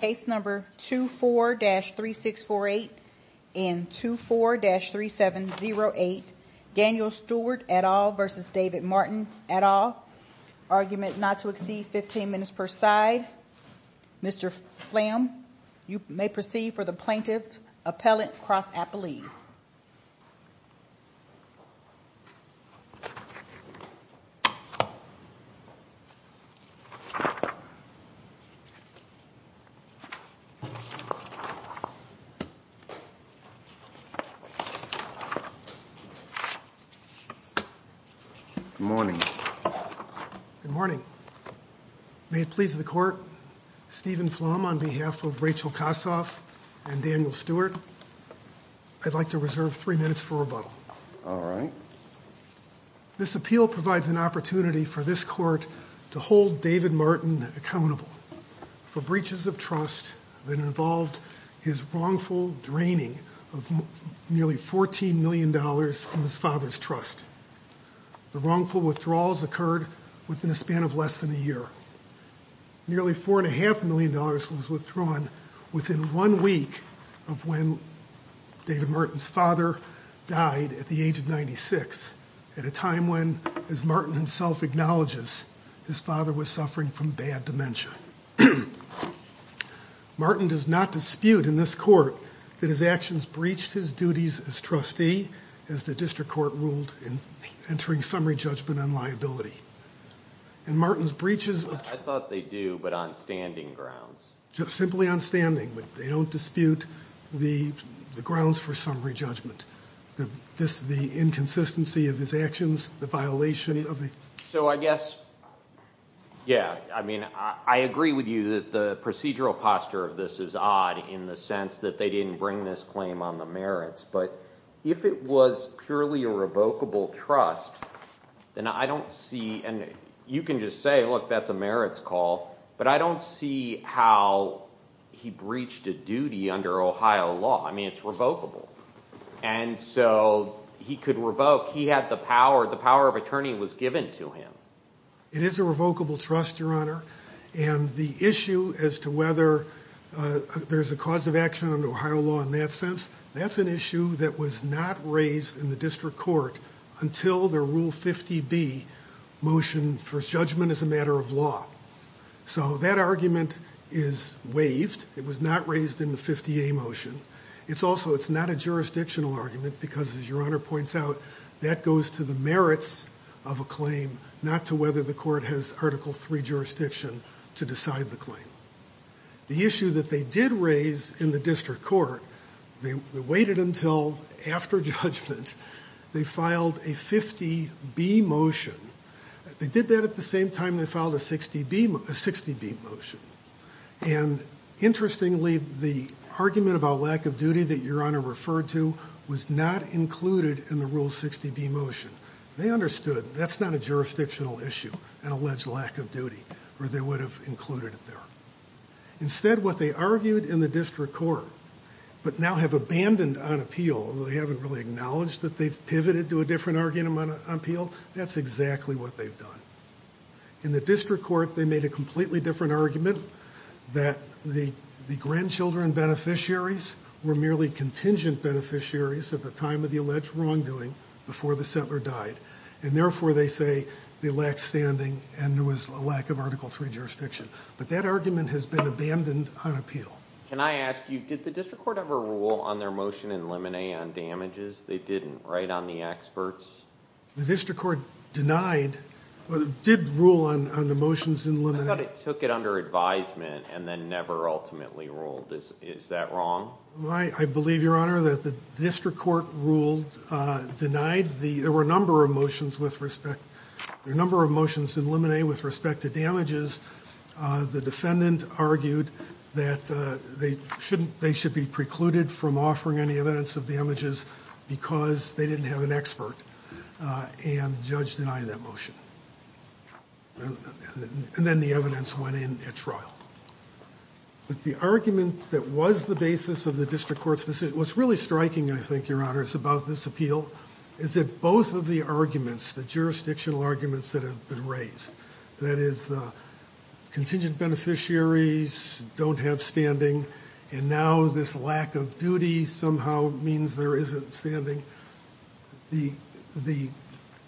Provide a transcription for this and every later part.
Case number 24-3648 and 24-3708, Daniel Stewart et al. v. David Martin et al. Argument not to exceed 15 minutes per side. Mr. Phlam, you may proceed for the plaintiff's appellate cross-appellees. Good morning. Good morning. May it please the Court, Stephen Phlam, on behalf of Rachel Kossoff and Daniel Stewart, I'd like to reserve three minutes for rebuttal. All right. This appeal provides an opportunity for this Court to hold David Martin accountable for breaches of trust that involved his wrongful draining of nearly $14 million from his father's trust. The wrongful withdrawals occurred within a span of less than a year. Nearly $4.5 million was withdrawn within one week of when David Martin's father died at the age of 96, at a time when, as Martin himself acknowledges, his father was suffering from bad dementia. Martin does not dispute in this Court that his actions breached his duties as trustee, as the District Court ruled in entering summary judgment on liability. And Martin's breaches of trust... I thought they do, but on standing grounds. Simply on standing, but they don't dispute the grounds for summary judgment, the inconsistency of his actions, the violation of the... So I guess, yeah, I mean, I agree with you that the procedural posture of this is odd in the sense that they didn't bring this claim on the merits, but if it was purely a revocable trust, then I don't see... And you can just say, look, that's a merits call. But I don't see how he breached a duty under Ohio law. I mean, it's revocable. And so he could revoke. He had the power. The power of attorney was given to him. It is a revocable trust, Your Honor. And the issue as to whether there's a cause of action under Ohio law in that sense, that's an issue that was not raised in the District Court until the Rule 50B motion for judgment as a matter of law. So that argument is waived. It was not raised in the 50A motion. It's also not a jurisdictional argument because, as Your Honor points out, that goes to the merits of a claim, not to whether the court has Article III jurisdiction to decide the claim. The issue that they did raise in the District Court, they waited until after judgment they filed a 50B motion. They did that at the same time they filed a 60B motion. And interestingly, the argument about lack of duty that Your Honor referred to was not included in the Rule 60B motion. They understood that's not a jurisdictional issue, an alleged lack of duty, or they would have included it there. Instead, what they argued in the District Court but now have abandoned on appeal, although they haven't really acknowledged that they've pivoted to a different argument on appeal, that's exactly what they've done. In the District Court, they made a completely different argument that the grandchildren beneficiaries were merely contingent beneficiaries at the time of the alleged wrongdoing before the settler died. And therefore, they say they lack standing and there was a lack of Article III jurisdiction. But that argument has been abandoned on appeal. Can I ask you, did the District Court ever rule on their motion in Lemonet on damages? They didn't write on the experts? The District Court did rule on the motions in Lemonet. I thought it took it under advisement and then never ultimately ruled. Is that wrong? I believe, Your Honor, that the District Court ruled, denied, there were a number of motions in Lemonet with respect to damages. The defendant argued that they should be precluded from offering any evidence of damages because they didn't have an expert. And the judge denied that motion. And then the evidence went in at trial. But the argument that was the basis of the District Court's decision, what's really striking, I think, Your Honor, is about this appeal, is that both of the arguments, the jurisdictional arguments that have been raised, that is the contingent beneficiaries don't have standing and now this lack of duty somehow means there isn't standing, the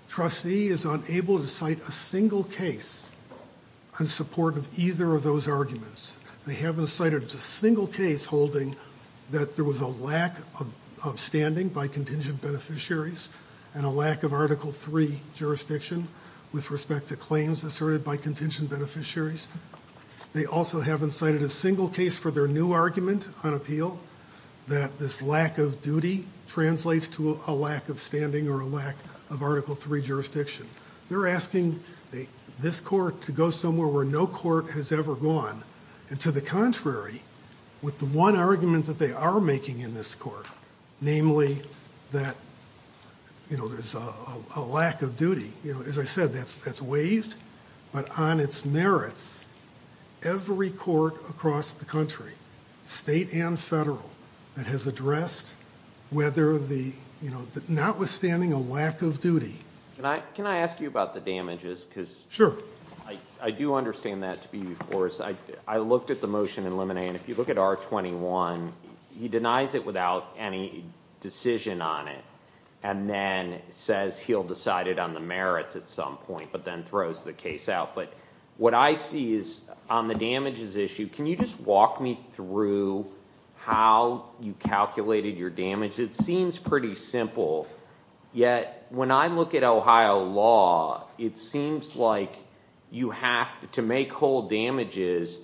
trustee is unable to cite a single case in support of either of those arguments. They haven't cited a single case holding that there was a lack of standing by contingent beneficiaries and a lack of Article III jurisdiction with respect to claims asserted by contingent beneficiaries. They also haven't cited a single case for their new argument on appeal that this lack of duty translates to a lack of standing or a lack of Article III jurisdiction. They're asking this court to go somewhere where no court has ever gone. And to the contrary, with the one argument that they are making in this court, namely that, you know, there's a lack of duty. You know, as I said, that's waived. But on its merits, every court across the country, state and federal, that has addressed whether the, you know, notwithstanding a lack of duty. Can I ask you about the damages? Sure. I do understand that to be, of course. I looked at the motion in Lemonnier, and if you look at R21, he denies it without any decision on it and then says he'll decide it on the merits at some point, but then throws the case out. But what I see is on the damages issue, can you just walk me through how you calculated your damage? It seems pretty simple, yet when I look at Ohio law, it seems like you have to make whole damages.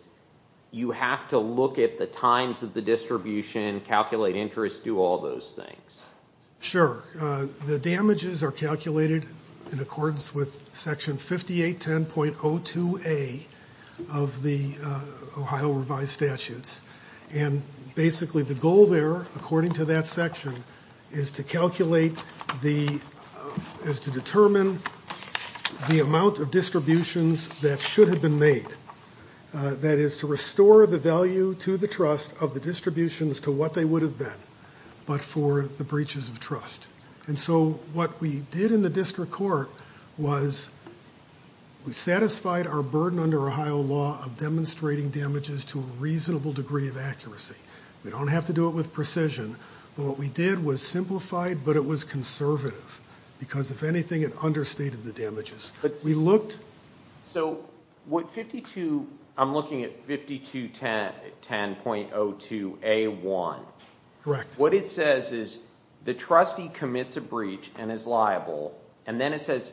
You have to look at the times of the distribution, calculate interest, do all those things. Sure. The damages are calculated in accordance with Section 5810.02a of the Ohio revised statutes. And basically the goal there, according to that section, is to calculate the, is to determine the amount of distributions that should have been made. That is to restore the value to the trust of the distributions to what they would have been, but for the breaches of trust. And so what we did in the district court was we satisfied our burden under Ohio law of demonstrating damages to a reasonable degree of accuracy. We don't have to do it with precision, but what we did was simplify it, but it was conservative. Because if anything, it understated the damages. So what 52, I'm looking at 5210.02a1. What it says is the trustee commits a breach and is liable. And then it says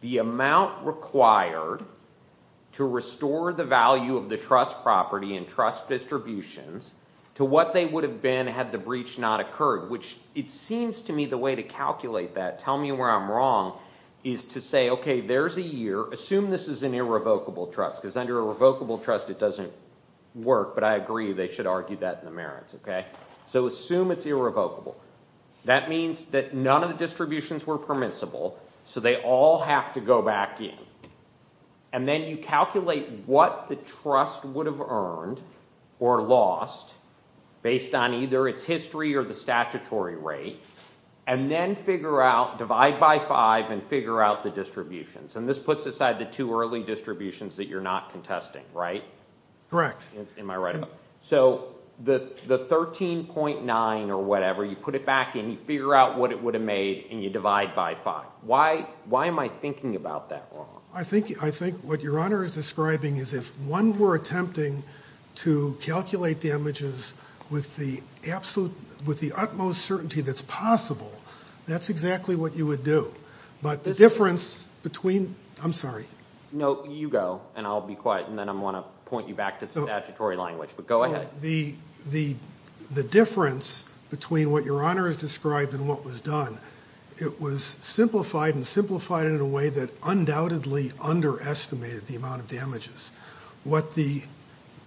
the amount required to restore the value of the trust property and trust distributions to what they would have been had the breach not occurred. Which it seems to me the way to calculate that, tell me where I'm wrong, is to say, okay, there's a year, assume this is an irrevocable trust. Because under a revocable trust it doesn't work, but I agree they should argue that in the merits. So assume it's irrevocable. That means that none of the distributions were permissible, so they all have to go back in. And then you calculate what the trust would have earned or lost based on either its history or the statutory rate. And then figure out, divide by five and figure out the distributions. And this puts aside the two early distributions that you're not contesting, right? Correct. Am I right? So the 13.9 or whatever, you put it back in, you figure out what it would have made, and you divide by five. Why am I thinking about that wrong? I think what Your Honor is describing is if one were attempting to calculate damages with the utmost certainty that's possible, that's exactly what you would do. But the difference between ‑‑ I'm sorry. No, you go, and I'll be quiet, and then I'm going to point you back to statutory language. But go ahead. The difference between what Your Honor has described and what was done, it was simplified and simplified in a way that undoubtedly underestimated the amount of damages. What the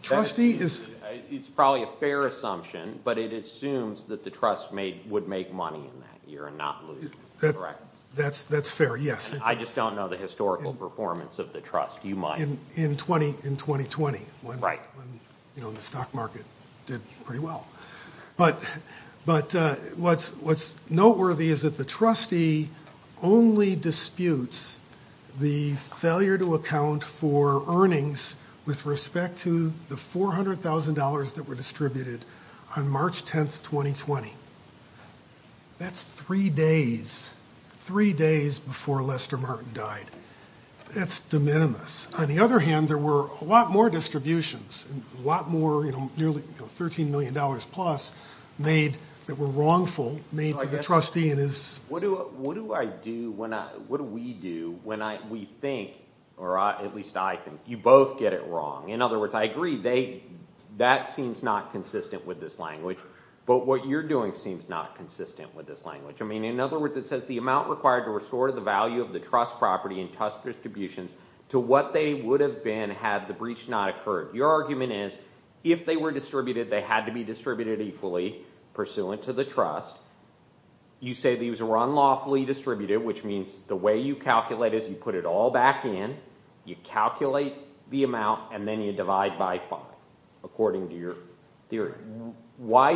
trustee is ‑‑ It's probably a fair assumption, but it assumes that the trust would make money in that year and not lose, correct? That's fair, yes. I just don't know the historical performance of the trust. You might. In 2020, when the stock market did pretty well. But what's noteworthy is that the trustee only disputes the failure to account for earnings with respect to the $400,000 that were distributed on March 10th, 2020. That's three days, three days before Lester Martin died. That's de minimis. On the other hand, there were a lot more distributions, a lot more, nearly $13 million plus, made that were wrongful, made to the trustee. What do I do, what do we do, when we think, or at least I think, you both get it wrong. In other words, I agree, that seems not consistent with this language, but what you're doing seems not consistent with this language. In other words, it says the amount required to restore the value of the trust property and trust distributions to what they would have been had the breach not occurred. Your argument is, if they were distributed, they had to be distributed equally pursuant to the trust. You say these were unlawfully distributed, which means the way you calculate is you put it all back in, you calculate the amount, and then you divide by five, according to your theory. Why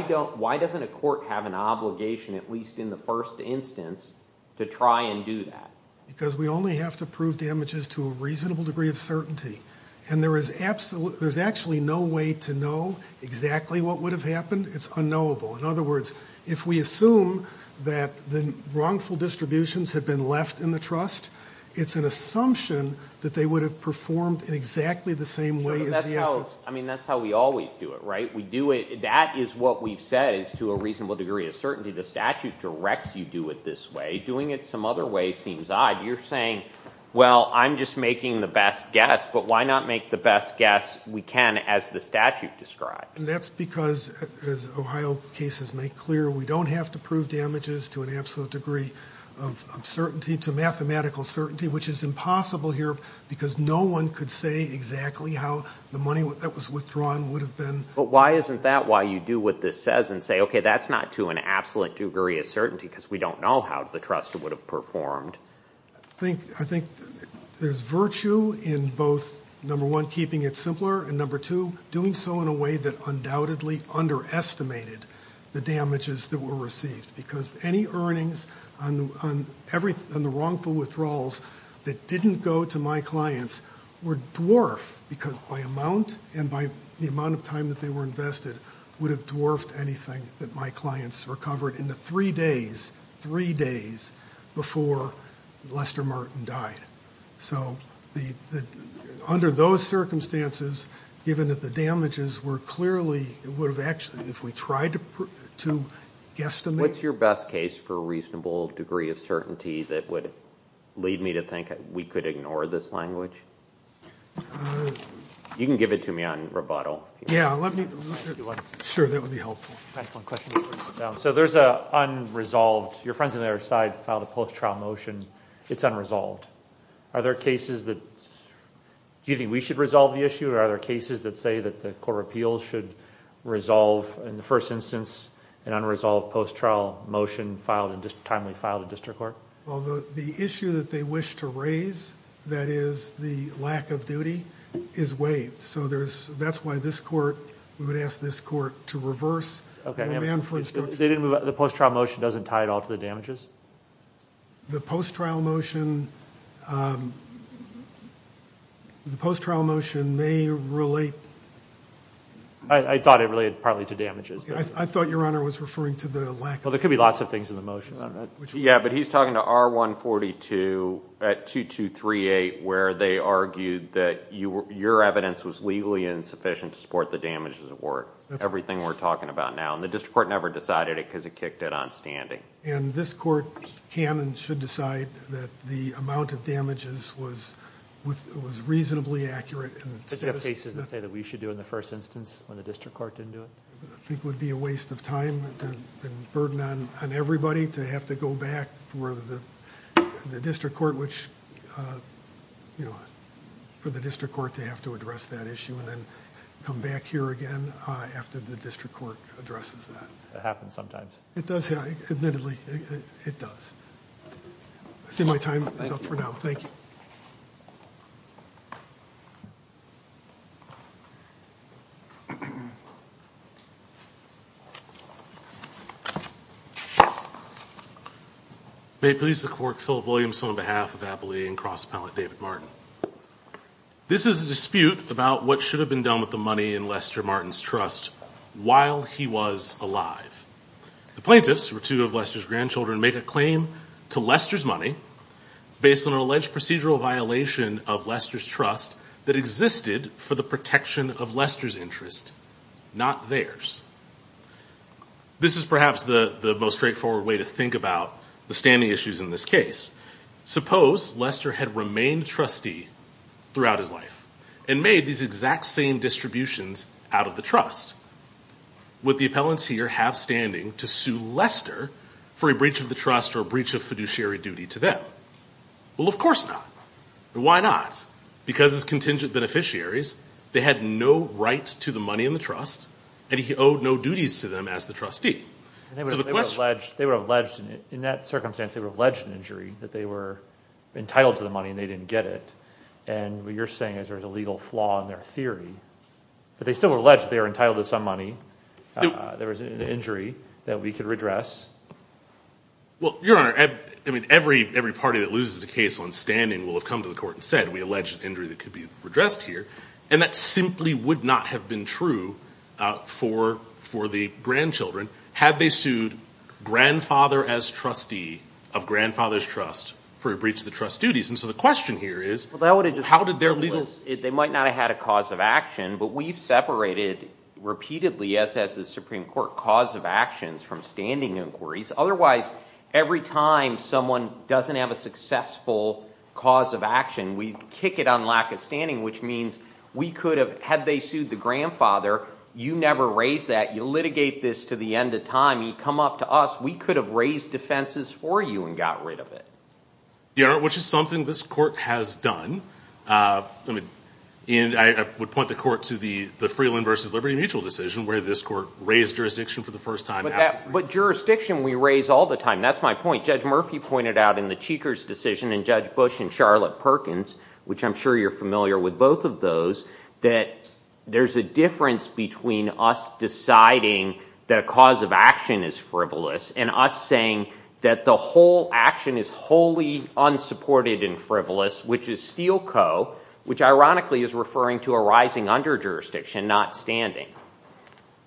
doesn't a court have an obligation, at least in the first instance, to try and do that? Because we only have to prove damages to a reasonable degree of certainty. There's actually no way to know exactly what would have happened. It's unknowable. In other words, if we assume that the wrongful distributions have been left in the trust, it's an assumption that they would have performed in exactly the same way as the assets. I mean, that's how we always do it, right? That is what we've said is to a reasonable degree of certainty. The statute directs you do it this way. Doing it some other way seems odd. You're saying, well, I'm just making the best guess, but why not make the best guess we can as the statute describes? And that's because, as Ohio cases make clear, we don't have to prove damages to an absolute degree of certainty, to mathematical certainty, which is impossible here because no one could say exactly how the money that was withdrawn would have been. But why isn't that why you do what this says and say, okay, that's not to an absolute degree of certainty because we don't know how the trust would have performed? I think there's virtue in both, number one, keeping it simpler, and number two, doing so in a way that undoubtedly underestimated the damages that were received. Because any earnings on the wrongful withdrawals that didn't go to my clients were dwarfed because by amount and by the amount of time that they were invested would have dwarfed anything that my clients recovered in the three days, three days before Lester Martin died. So under those circumstances, given that the damages were clearly, it would have actually, if we tried to guesstimate. What's your best case for a reasonable degree of certainty that would lead me to think we could ignore this language? You can give it to me on rebuttal. Yeah, let me. Sure, that would be helpful. So there's an unresolved, your friends on the other side filed a post-trial motion. It's unresolved. Are there cases that, do you think we should resolve the issue or are there cases that say that the court of appeals should resolve in the first instance an unresolved post-trial motion filed, a timely file to district court? Although the issue that they wish to raise, that is the lack of duty, is waived. So there's, that's why this court, we would ask this court to reverse. Okay. The post-trial motion doesn't tie at all to the damages? The post-trial motion, the post-trial motion may relate. I thought it related partly to damages. I thought your honor was referring to the lack of duty. Well, there could be lots of things in the motion. Yeah, but he's talking to R142 at 2238 where they argued that your evidence was legally insufficient to support the damages at work. Everything we're talking about now. And the district court never decided it because it kicked it on standing. And this court can and should decide that the amount of damages was reasonably accurate. But do you have cases that say that we should do it in the first instance when the district court didn't do it? I think it would be a waste of time and burden on everybody to have to go back for the district court which, you know, for the district court to have to address that issue and then come back here again after the district court addresses that. It happens sometimes. It does. Admittedly, it does. I see my time is up for now. Thank you. May it please the court, Philip Williamson on behalf of Abilene and Cross Appellate David Martin. This is a dispute about what should have been done with the money in Lester Martin's trust while he was alive. The plaintiffs, two of Lester's grandchildren, make a claim to Lester's money based on an alleged procedural violation of Lester's trust that existed for the protection of Lester's interest. Not theirs. This is perhaps the most straightforward way to think about the standing issues in this case. Suppose Lester had remained trustee throughout his life and made these exact same distributions out of the trust. Would the appellants here have standing to sue Lester for a breach of the trust or a breach of fiduciary duty to them? Well, of course not. Why not? Because as contingent beneficiaries, they had no right to the money in the trust, and he owed no duties to them as the trustee. They were alleged in that circumstance. They were alleged in injury that they were entitled to the money and they didn't get it. And what you're saying is there's a legal flaw in their theory. But they still were alleged they were entitled to some money. There was an injury that we could redress. Well, Your Honor, I mean, every party that loses the case on standing will have come to the court and said we allege an injury that could be redressed here. And that simply would not have been true for the grandchildren had they sued grandfather as trustee of grandfather's trust for a breach of the trust duties. And so the question here is how did their legal – Otherwise, every time someone doesn't have a successful cause of action, we kick it on lack of standing, which means we could have – had they sued the grandfather, you never raise that. You litigate this to the end of time. You come up to us. We could have raised defenses for you and got rid of it. Your Honor, which is something this court has done. I would point the court to the Freeland v. Liberty Mutual decision where this court raised jurisdiction for the first time. But jurisdiction we raise all the time. That's my point. Judge Murphy pointed out in the Cheekers decision and Judge Bush and Charlotte Perkins, which I'm sure you're familiar with both of those, that there's a difference between us deciding that a cause of action is frivolous and us saying that the whole action is wholly unsupported and frivolous, which is steel co, which ironically is referring to a rising under jurisdiction, not standing.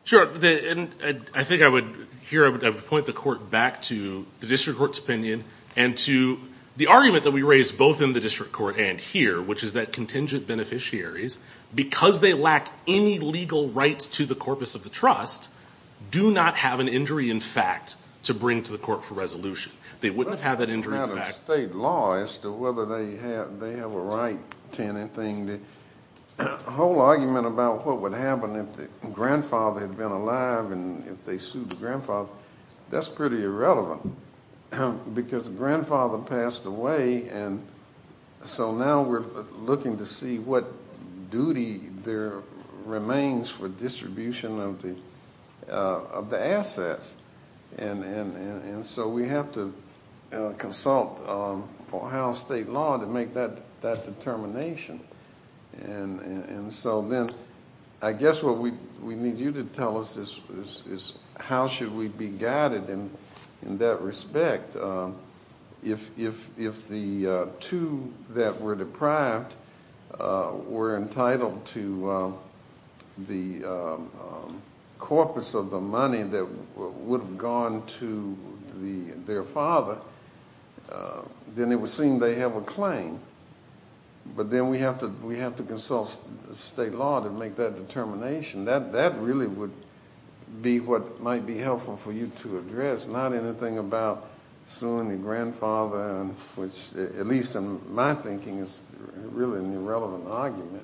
Sure. I think I would – here I would point the court back to the district court's opinion and to the argument that we raised both in the district court and here, which is that contingent beneficiaries, because they lack any legal rights to the corpus of the trust, do not have an injury in fact to bring to the court for resolution. They wouldn't have had that injury in fact. State law as to whether they have a right to anything. The whole argument about what would happen if the grandfather had been alive and if they sued the grandfather, that's pretty irrelevant because the grandfather passed away and so now we're looking to see what duty there remains for distribution of the assets. And so we have to consult for how state law to make that determination. And so then I guess what we need you to tell us is how should we be guided in that respect if the two that were deprived were entitled to the corpus of the money that would have gone to their father, then it would seem they have a claim. But then we have to consult state law to make that determination. That really would be what might be helpful for you to address, not anything about suing the grandfather, which at least in my thinking is really an irrelevant argument.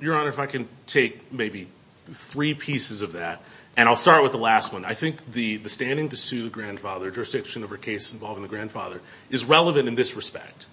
Your Honor, if I can take maybe three pieces of that and I'll start with the last one. I think the standing to sue the grandfather, jurisdiction of a case involving the grandfather, is relevant in this respect.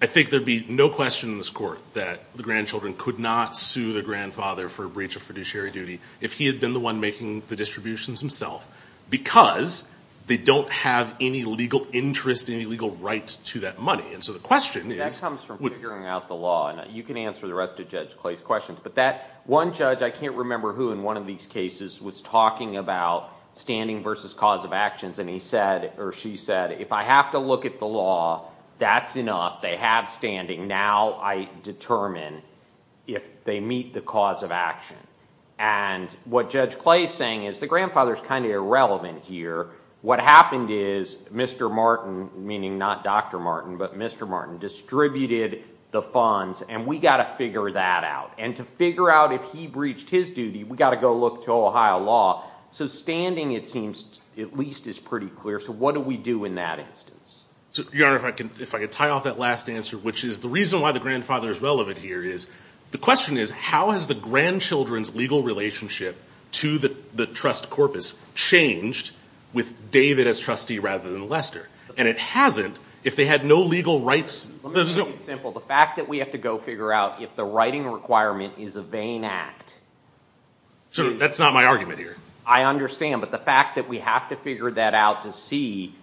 I think there'd be no question in this court that the grandchildren could not sue the grandfather for a breach of fiduciary duty if he had been the one making the distributions himself because they don't have any legal interest, any legal rights to that money. That comes from figuring out the law. You can answer the rest of Judge Clay's questions. But that one judge, I can't remember who in one of these cases, was talking about standing versus cause of actions. And he said, or she said, if I have to look at the law, that's enough. They have standing. Now I determine if they meet the cause of action. And what Judge Clay is saying is the grandfather is kind of irrelevant here. What happened is Mr. Martin, meaning not Dr. Martin, but Mr. Martin, distributed the funds and we've got to figure that out. And to figure out if he breached his duty, we've got to go look to Ohio law. So standing, it seems, at least is pretty clear. So what do we do in that instance? Your Honor, if I could tie off that last answer, which is the reason why the grandfather is relevant here is the question is how has the grandchildren's legal relationship to the trust corpus changed with David as trustee rather than Lester? And it hasn't if they had no legal rights. Let me make it simple. The fact that we have to go figure out if the writing requirement is a vain act. That's not my argument here. I understand. But the fact that we have to figure that out to see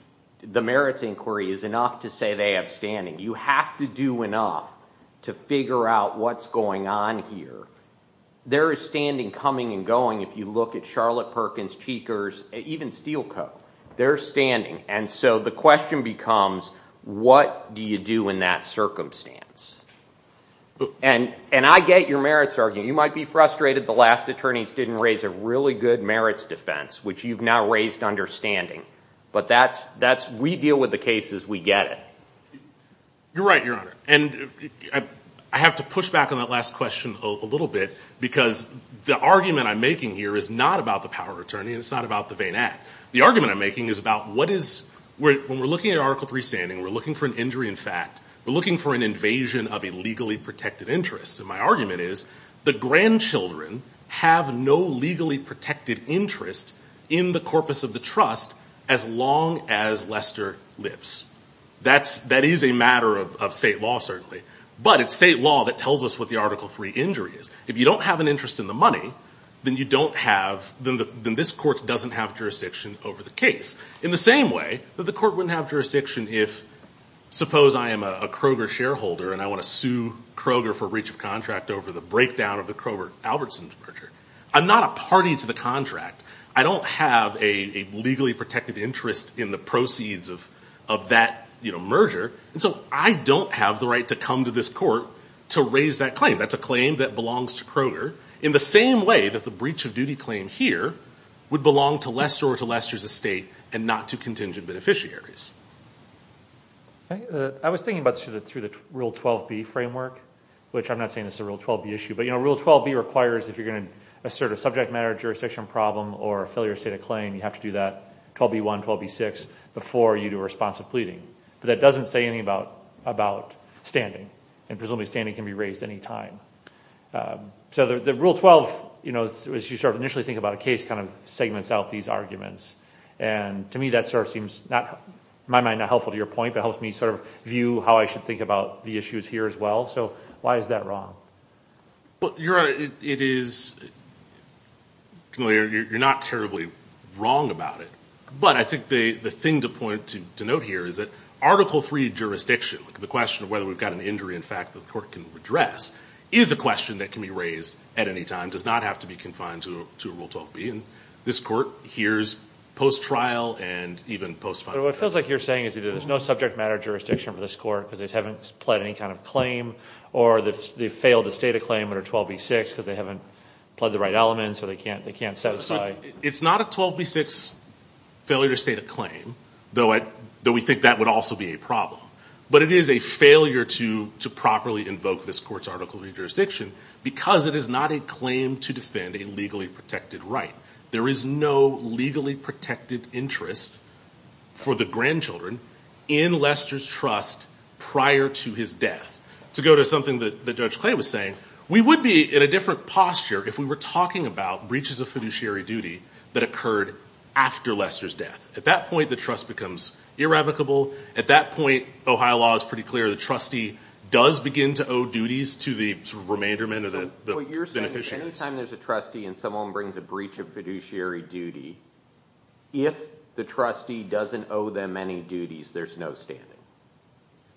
the merits inquiry is enough to say they have standing. You have to do enough to figure out what's going on here. There is standing coming and going. If you look at Charlotte Perkins, Cheekers, even Steelcoat, there's standing. And so the question becomes what do you do in that circumstance? And I get your merits argument. You might be frustrated. The last attorneys didn't raise a really good merits defense, which you've now raised understanding. But we deal with the cases. We get it. You're right, Your Honor. And I have to push back on that last question a little bit because the argument I'm making here is not about the power of attorney and it's not about the vain act. The argument I'm making is about when we're looking at Article III standing, we're looking for an injury in fact. We're looking for an invasion of a legally protected interest. And my argument is the grandchildren have no legally protected interest in the corpus of the trust as long as Lester lives. That is a matter of state law, certainly. But it's state law that tells us what the Article III injury is. If you don't have an interest in the money, then you don't have the ‑‑ then this court doesn't have jurisdiction over the case. In the same way that the court wouldn't have jurisdiction if suppose I am a Kroger shareholder and I want to sue Kroger for breach of contract over the breakdown of the Kroger-Albertson merger. I'm not a party to the contract. I don't have a legally protected interest in the proceeds of that merger. And so I don't have the right to come to this court to raise that claim. That's a claim that belongs to Kroger. In the same way that the breach of duty claim here would belong to Lester or to Lester's estate and not to contingent beneficiaries. I was thinking about this through the Rule 12B framework. Which I'm not saying this is a Rule 12B issue. But Rule 12B requires if you're going to assert a subject matter jurisdiction problem or failure to state a claim, you have to do that 12B1, 12B6 before you do responsive pleading. But that doesn't say anything about standing. And presumably standing can be raised any time. So the Rule 12, as you sort of initially think about a case, kind of segments out these arguments. And to me that sort of seems, in my mind, not helpful to your point. But helps me sort of view how I should think about the issues here as well. So why is that wrong? It is, you're not terribly wrong about it. But I think the thing to point, to note here, is that Article III jurisdiction, the question of whether we've got an injury in fact that the court can address, is a question that can be raised at any time. Does not have to be confined to Rule 12B. And this court hears post-trial and even post-final. But what it feels like you're saying is that there's no subject matter jurisdiction for this court because they haven't pled any kind of claim. Or they've failed to state a claim under 12B6 because they haven't pled the right element. So they can't set aside. It's not a 12B6 failure to state a claim. Though we think that would also be a problem. But it is a failure to properly invoke this court's Article III jurisdiction because it is not a claim to defend a legally protected right. There is no legally protected interest for the grandchildren in Lester's trust prior to his death. To go to something that Judge Clay was saying, we would be in a different posture if we were talking about breaches of fiduciary duty that occurred after Lester's death. At that point, the trust becomes irrevocable. At that point, Ohio law is pretty clear. The trustee does begin to owe duties to the remainder men or the beneficiaries. Any time there's a trustee and someone brings a breach of fiduciary duty, if the trustee doesn't owe them any duties, there's no standing.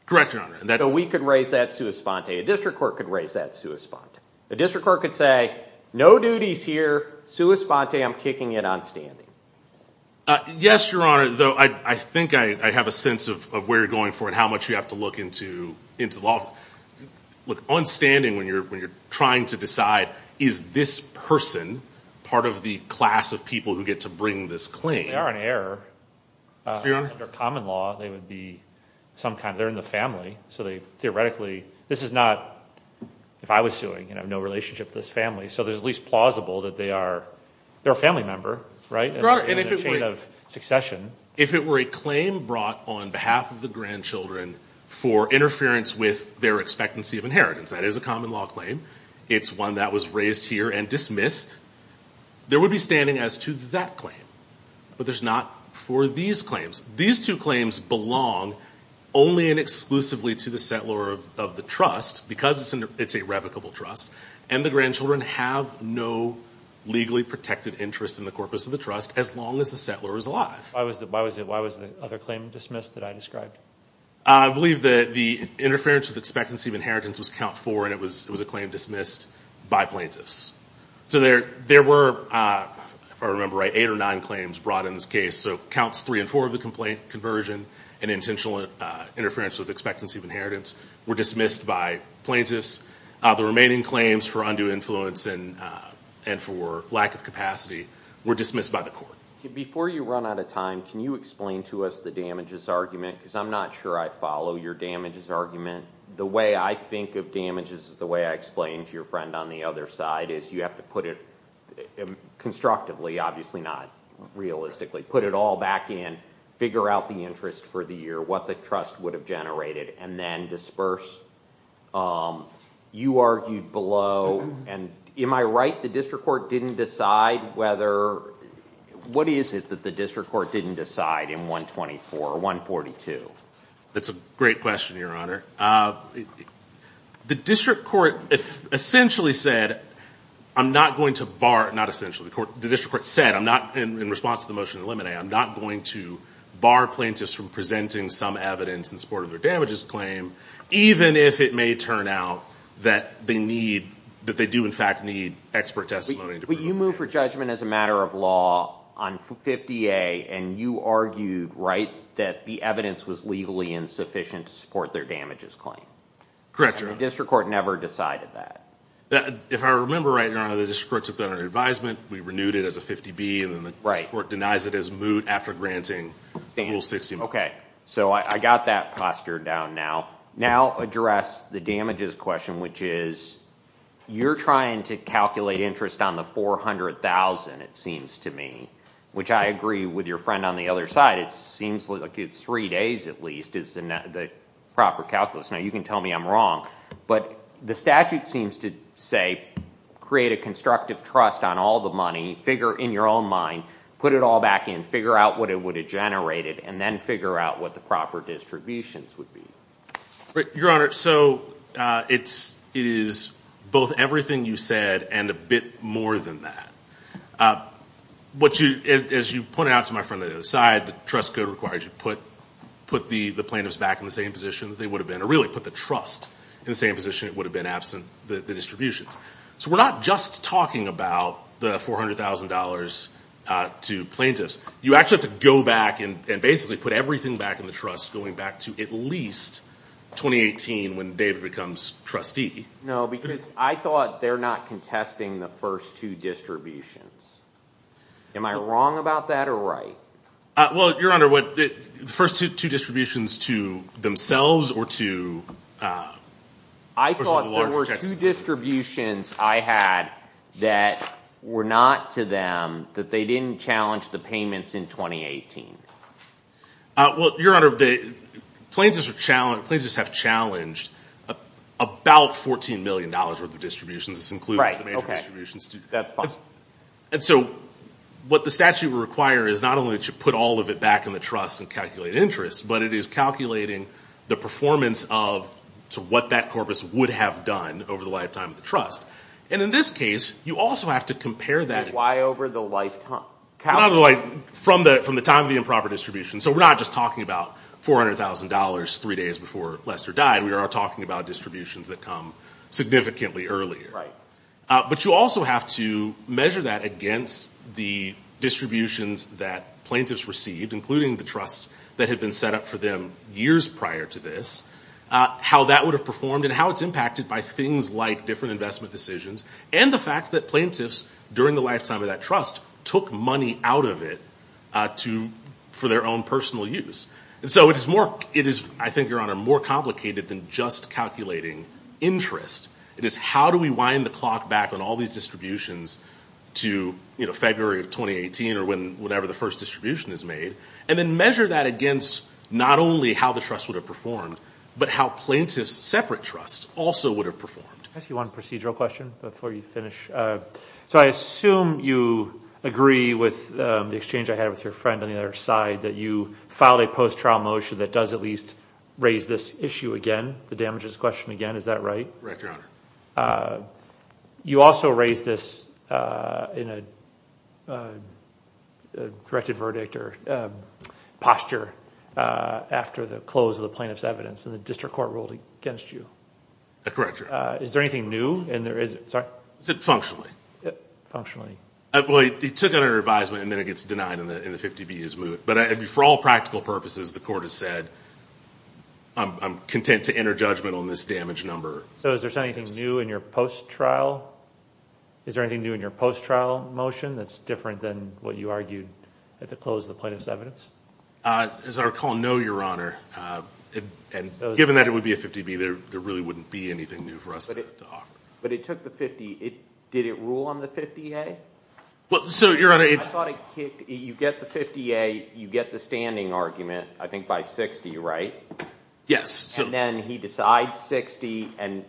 Correct, Your Honor. So we could raise that sua sponte. A district court could raise that sua sponte. A district court could say, no duties here. Sua sponte. I'm kicking it on standing. Yes, Your Honor. I think I have a sense of where you're going for it, how much you have to look into law. On standing, when you're trying to decide, is this person part of the class of people who get to bring this claim? They are an heir. Your Honor? Under common law, they would be some kind. They're in the family. So theoretically, this is not, if I was suing, I have no relationship with this family. So there's at least plausible that they are a family member, right? Your Honor, if it were a claim brought on behalf of the grandchildren for interference with their expectancy of inheritance, that is a common law claim, it's one that was raised here and dismissed, there would be standing as to that claim. But there's not for these claims. These two claims belong only and exclusively to the settlor of the trust because it's a revocable trust, and the grandchildren have no legally protected interest in the corpus of the trust as long as the settlor is alive. Why was the other claim dismissed that I described? I believe that the interference with expectancy of inheritance was count four, and it was a claim dismissed by plaintiffs. So there were, if I remember right, eight or nine claims brought in this case. So counts three and four of the complaint conversion and intentional interference with expectancy of inheritance were dismissed by plaintiffs. The remaining claims for undue influence and for lack of capacity were dismissed by the court. Before you run out of time, can you explain to us the damages argument? Because I'm not sure I follow your damages argument. The way I think of damages is the way I explained to your friend on the other side is you have to put it constructively, obviously not realistically, put it all back in, figure out the interest for the year, what the trust would have generated, and then disperse. You argued below, and am I right, the district court didn't decide whether – what is it that the district court didn't decide in 124 or 142? That's a great question, Your Honor. The district court essentially said I'm not going to bar – not essentially. in support of their damages claim, even if it may turn out that they need – that they do, in fact, need expert testimony. But you moved for judgment as a matter of law on 50A, and you argued, right, that the evidence was legally insufficient to support their damages claim. Correct, Your Honor. The district court never decided that. If I remember right, Your Honor, the district court took that under advisement. We renewed it as a 50B, and then the court denies it as moot after granting Rule 60. Okay. So I got that posture down now. Now address the damages question, which is you're trying to calculate interest on the $400,000, it seems to me, which I agree with your friend on the other side. It seems like it's three days at least is the proper calculus. Now, you can tell me I'm wrong, but the statute seems to say create a constructive trust on all the money, figure in your own mind, put it all back in, figure out what it would have generated, and then figure out what the proper distributions would be. Your Honor, so it is both everything you said and a bit more than that. As you pointed out to my friend on the other side, the trust code requires you put the plaintiffs back in the same position that they would have been, or really put the trust in the same position it would have been absent the distributions. So we're not just talking about the $400,000 to plaintiffs. You actually have to go back and basically put everything back in the trust, going back to at least 2018 when David becomes trustee. No, because I thought they're not contesting the first two distributions. Am I wrong about that or right? Well, Your Honor, the first two distributions to themselves or to a person with a larger tax incentive? The first two distributions I had that were not to them, that they didn't challenge the payments in 2018. Well, Your Honor, plaintiffs have challenged about $14 million worth of distributions. This includes the major distributions. And so what the statute would require is not only to put all of it back in the trust and calculate interest, but it is calculating the performance of what that corpus would have done over the lifetime of the trust. And in this case, you also have to compare that. Why over the lifetime? From the time of the improper distribution. So we're not just talking about $400,000 three days before Lester died. We are talking about distributions that come significantly earlier. But you also have to measure that against the distributions that plaintiffs received, including the trust that had been set up for them years prior to this, how that would have performed and how it's impacted by things like different investment decisions and the fact that plaintiffs during the lifetime of that trust took money out of it for their own personal use. And so it is, I think, Your Honor, more complicated than just calculating interest. It is how do we wind the clock back on all these distributions to February of 2018 or whenever the first distribution is made, and then measure that against not only how the trust would have performed, but how plaintiffs' separate trusts also would have performed. Can I ask you one procedural question before you finish? So I assume you agree with the exchange I had with your friend on the other side, that you filed a post-trial motion that does at least raise this issue again, the damages question again. Is that right? You also raised this in a corrected verdict or posture after the close of the plaintiff's evidence, and the district court ruled against you. Correct, Your Honor. Is there anything new? I said functionally. Functionally. Well, he took it under advisement, and then it gets denied in the 50B as well. But for all practical purposes, the court has said, I'm content to enter judgment on this damage number. So is there anything new in your post-trial? Is there anything new in your post-trial motion that's different than what you argued at the close of the plaintiff's evidence? As I recall, no, Your Honor. And given that it would be a 50B, there really wouldn't be anything new for us to offer. But it took the 50. Did it rule on the 50A? I thought it kicked. You get the 50A, you get the standing argument, I think by 60, right? Yes. And then he decides 60, and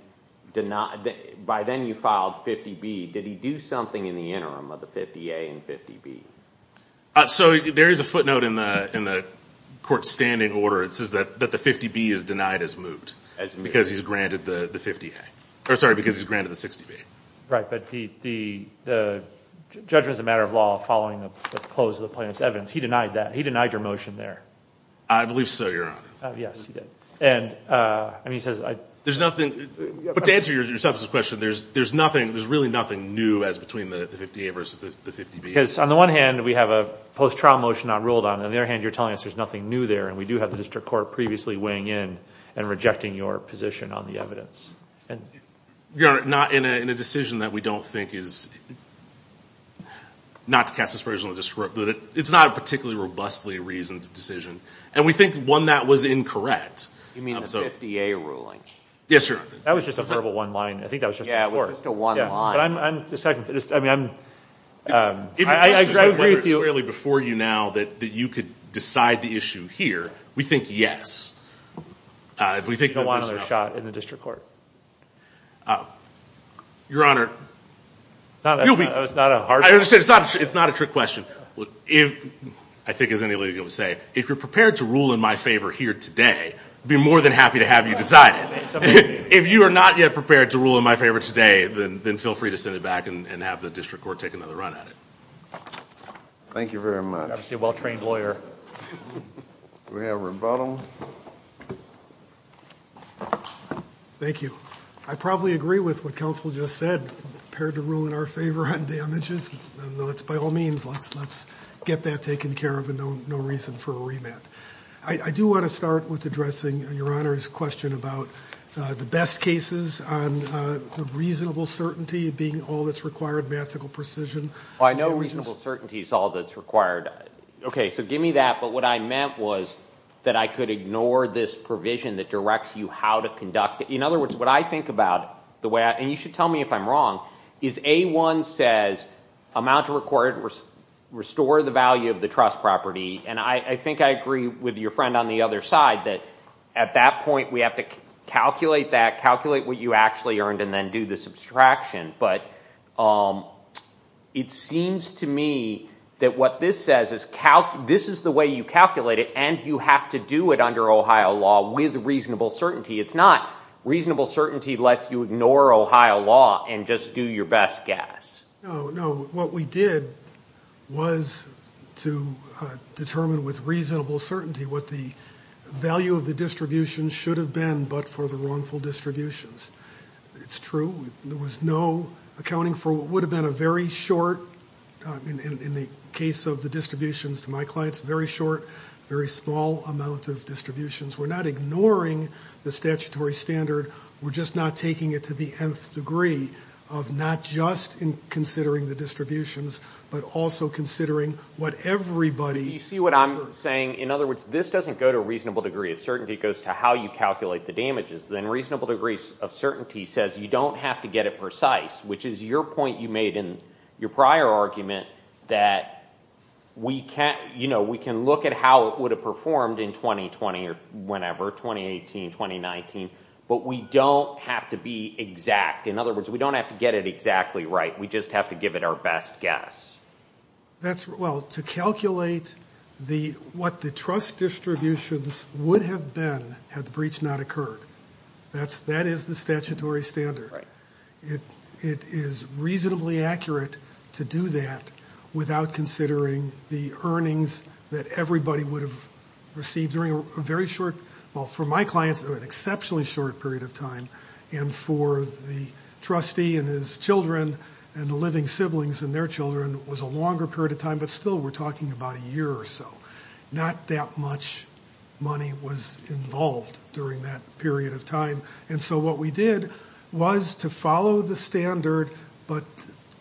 by then you filed 50B. Did he do something in the interim of the 50A and 50B? So there is a footnote in the court's standing order. It says that the 50B is denied as moved because he's granted the 50A. Sorry, because he's granted the 60B. Right, but the judgment is a matter of law following the close of the plaintiff's evidence. He denied that. He denied your motion there. I believe so, Your Honor. Yes, he did. And he says I ---- There's nothing. But to answer your substance question, there's nothing, there's really nothing new as between the 50A versus the 50B. Because on the one hand, we have a post-trial motion not ruled on. On the other hand, you're telling us there's nothing new there, and we do have the district court previously weighing in and rejecting your position on the evidence. Your Honor, not in a decision that we don't think is, not to cast aspersions on the district, but it's not a particularly robustly reasoned decision. And we think one that was incorrect. You mean the 50A ruling? Yes, Your Honor. That was just a verbal one-line. I think that was just a report. Yeah, it was just a one-line. But I'm, I'm, I mean, I'm, I agree with you. It's fairly before you now that you could decide the issue here. We think yes. If we think that was enough. No one other shot in the district court. Your Honor, you'll be. It's not a hard question. I understand. It's not a trick question. If, I think as any legal would say, if you're prepared to rule in my favor here today, I'd be more than happy to have you decide it. If you are not yet prepared to rule in my favor today, then feel free to send it back and have the district court take another run at it. Thank you very much. You're obviously a well-trained lawyer. Do we have rebuttal? Thank you. I probably agree with what counsel just said, prepared to rule in our favor on damages. And that's by all means. Let's, let's get that taken care of and no, no reason for a remand. I do want to start with addressing Your Honor's question about the best cases on the reasonable certainty being all that's required, mathematical precision. Well, I know reasonable certainty is all that's required. Okay. So give me that. But what I meant was that I could ignore this provision that directs you how to conduct it. In other words, what I think about the way, and you should tell me if I'm wrong, is A1 says amount to record, restore the value of the trust property. And I think I agree with your friend on the other side that at that point we have to calculate that, calculate what you actually earned and then do the subtraction. But it seems to me that what this says is this is the way you calculate it and you have to do it under Ohio law with reasonable certainty. It's not reasonable certainty lets you ignore Ohio law and just do your best guess. No, no. What we did was to determine with reasonable certainty what the value of the distribution should have been, but for the wrongful distributions. It's true. There was no accounting for what would have been a very short, in the case of the distributions to my clients, very short, very small amount of distributions. We're not ignoring the statutory standard. We're just not taking it to the nth degree of not just in considering the distributions, but also considering what everybody. You see what I'm saying? In other words, this doesn't go to a reasonable degree of certainty. It goes to how you calculate the damages. Then reasonable degrees of certainty says you don't have to get it precise, which is your point you made in your prior argument that we can look at how it would have performed in 2020 or whenever, 2018, 2019, but we don't have to be exact. In other words, we don't have to get it exactly right. We just have to give it our best guess. Well, to calculate what the trust distributions would have been had the breach not occurred. That is the statutory standard. It is reasonably accurate to do that without considering the earnings that everybody would have received during a very short, well, for my clients, an exceptionally short period of time, and for the trustee and his children and the living siblings and their children, it was a longer period of time, but still we're talking about a year or so. Not that much money was involved during that period of time, and so what we did was to follow the standard, but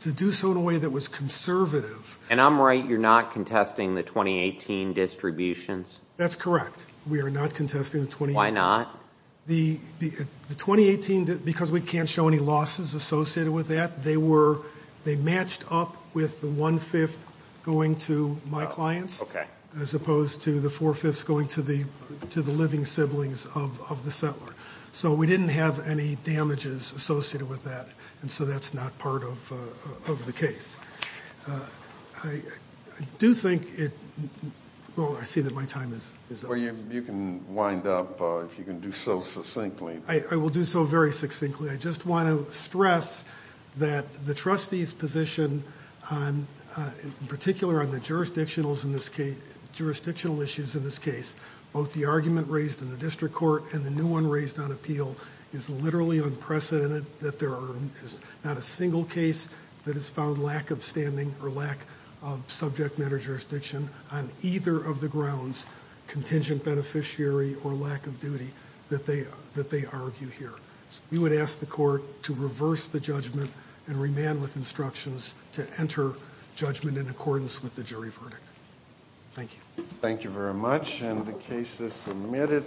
to do so in a way that was conservative. And I'm right. You're not contesting the 2018 distributions? That's correct. We are not contesting the 2018. Why not? The 2018, because we can't show any losses associated with that, they matched up with the one-fifth going to my clients as opposed to the four-fifths going to the living siblings of the settler. So we didn't have any damages associated with that, and so that's not part of the case. I do think it, well, I see that my time is up. Well, you can wind up if you can do so succinctly. I will do so very succinctly. I just want to stress that the trustee's position, in particular on the jurisdictional issues in this case, both the argument raised in the district court and the new one raised on appeal, is literally unprecedented that there is not a single case that has found lack of standing or lack of subject matter jurisdiction on either of the grounds, contingent beneficiary or lack of duty, that they argue here. We would ask the court to reverse the judgment and remand with instructions to enter judgment in accordance with the jury verdict. Thank you. Thank you very much, and the case is submitted.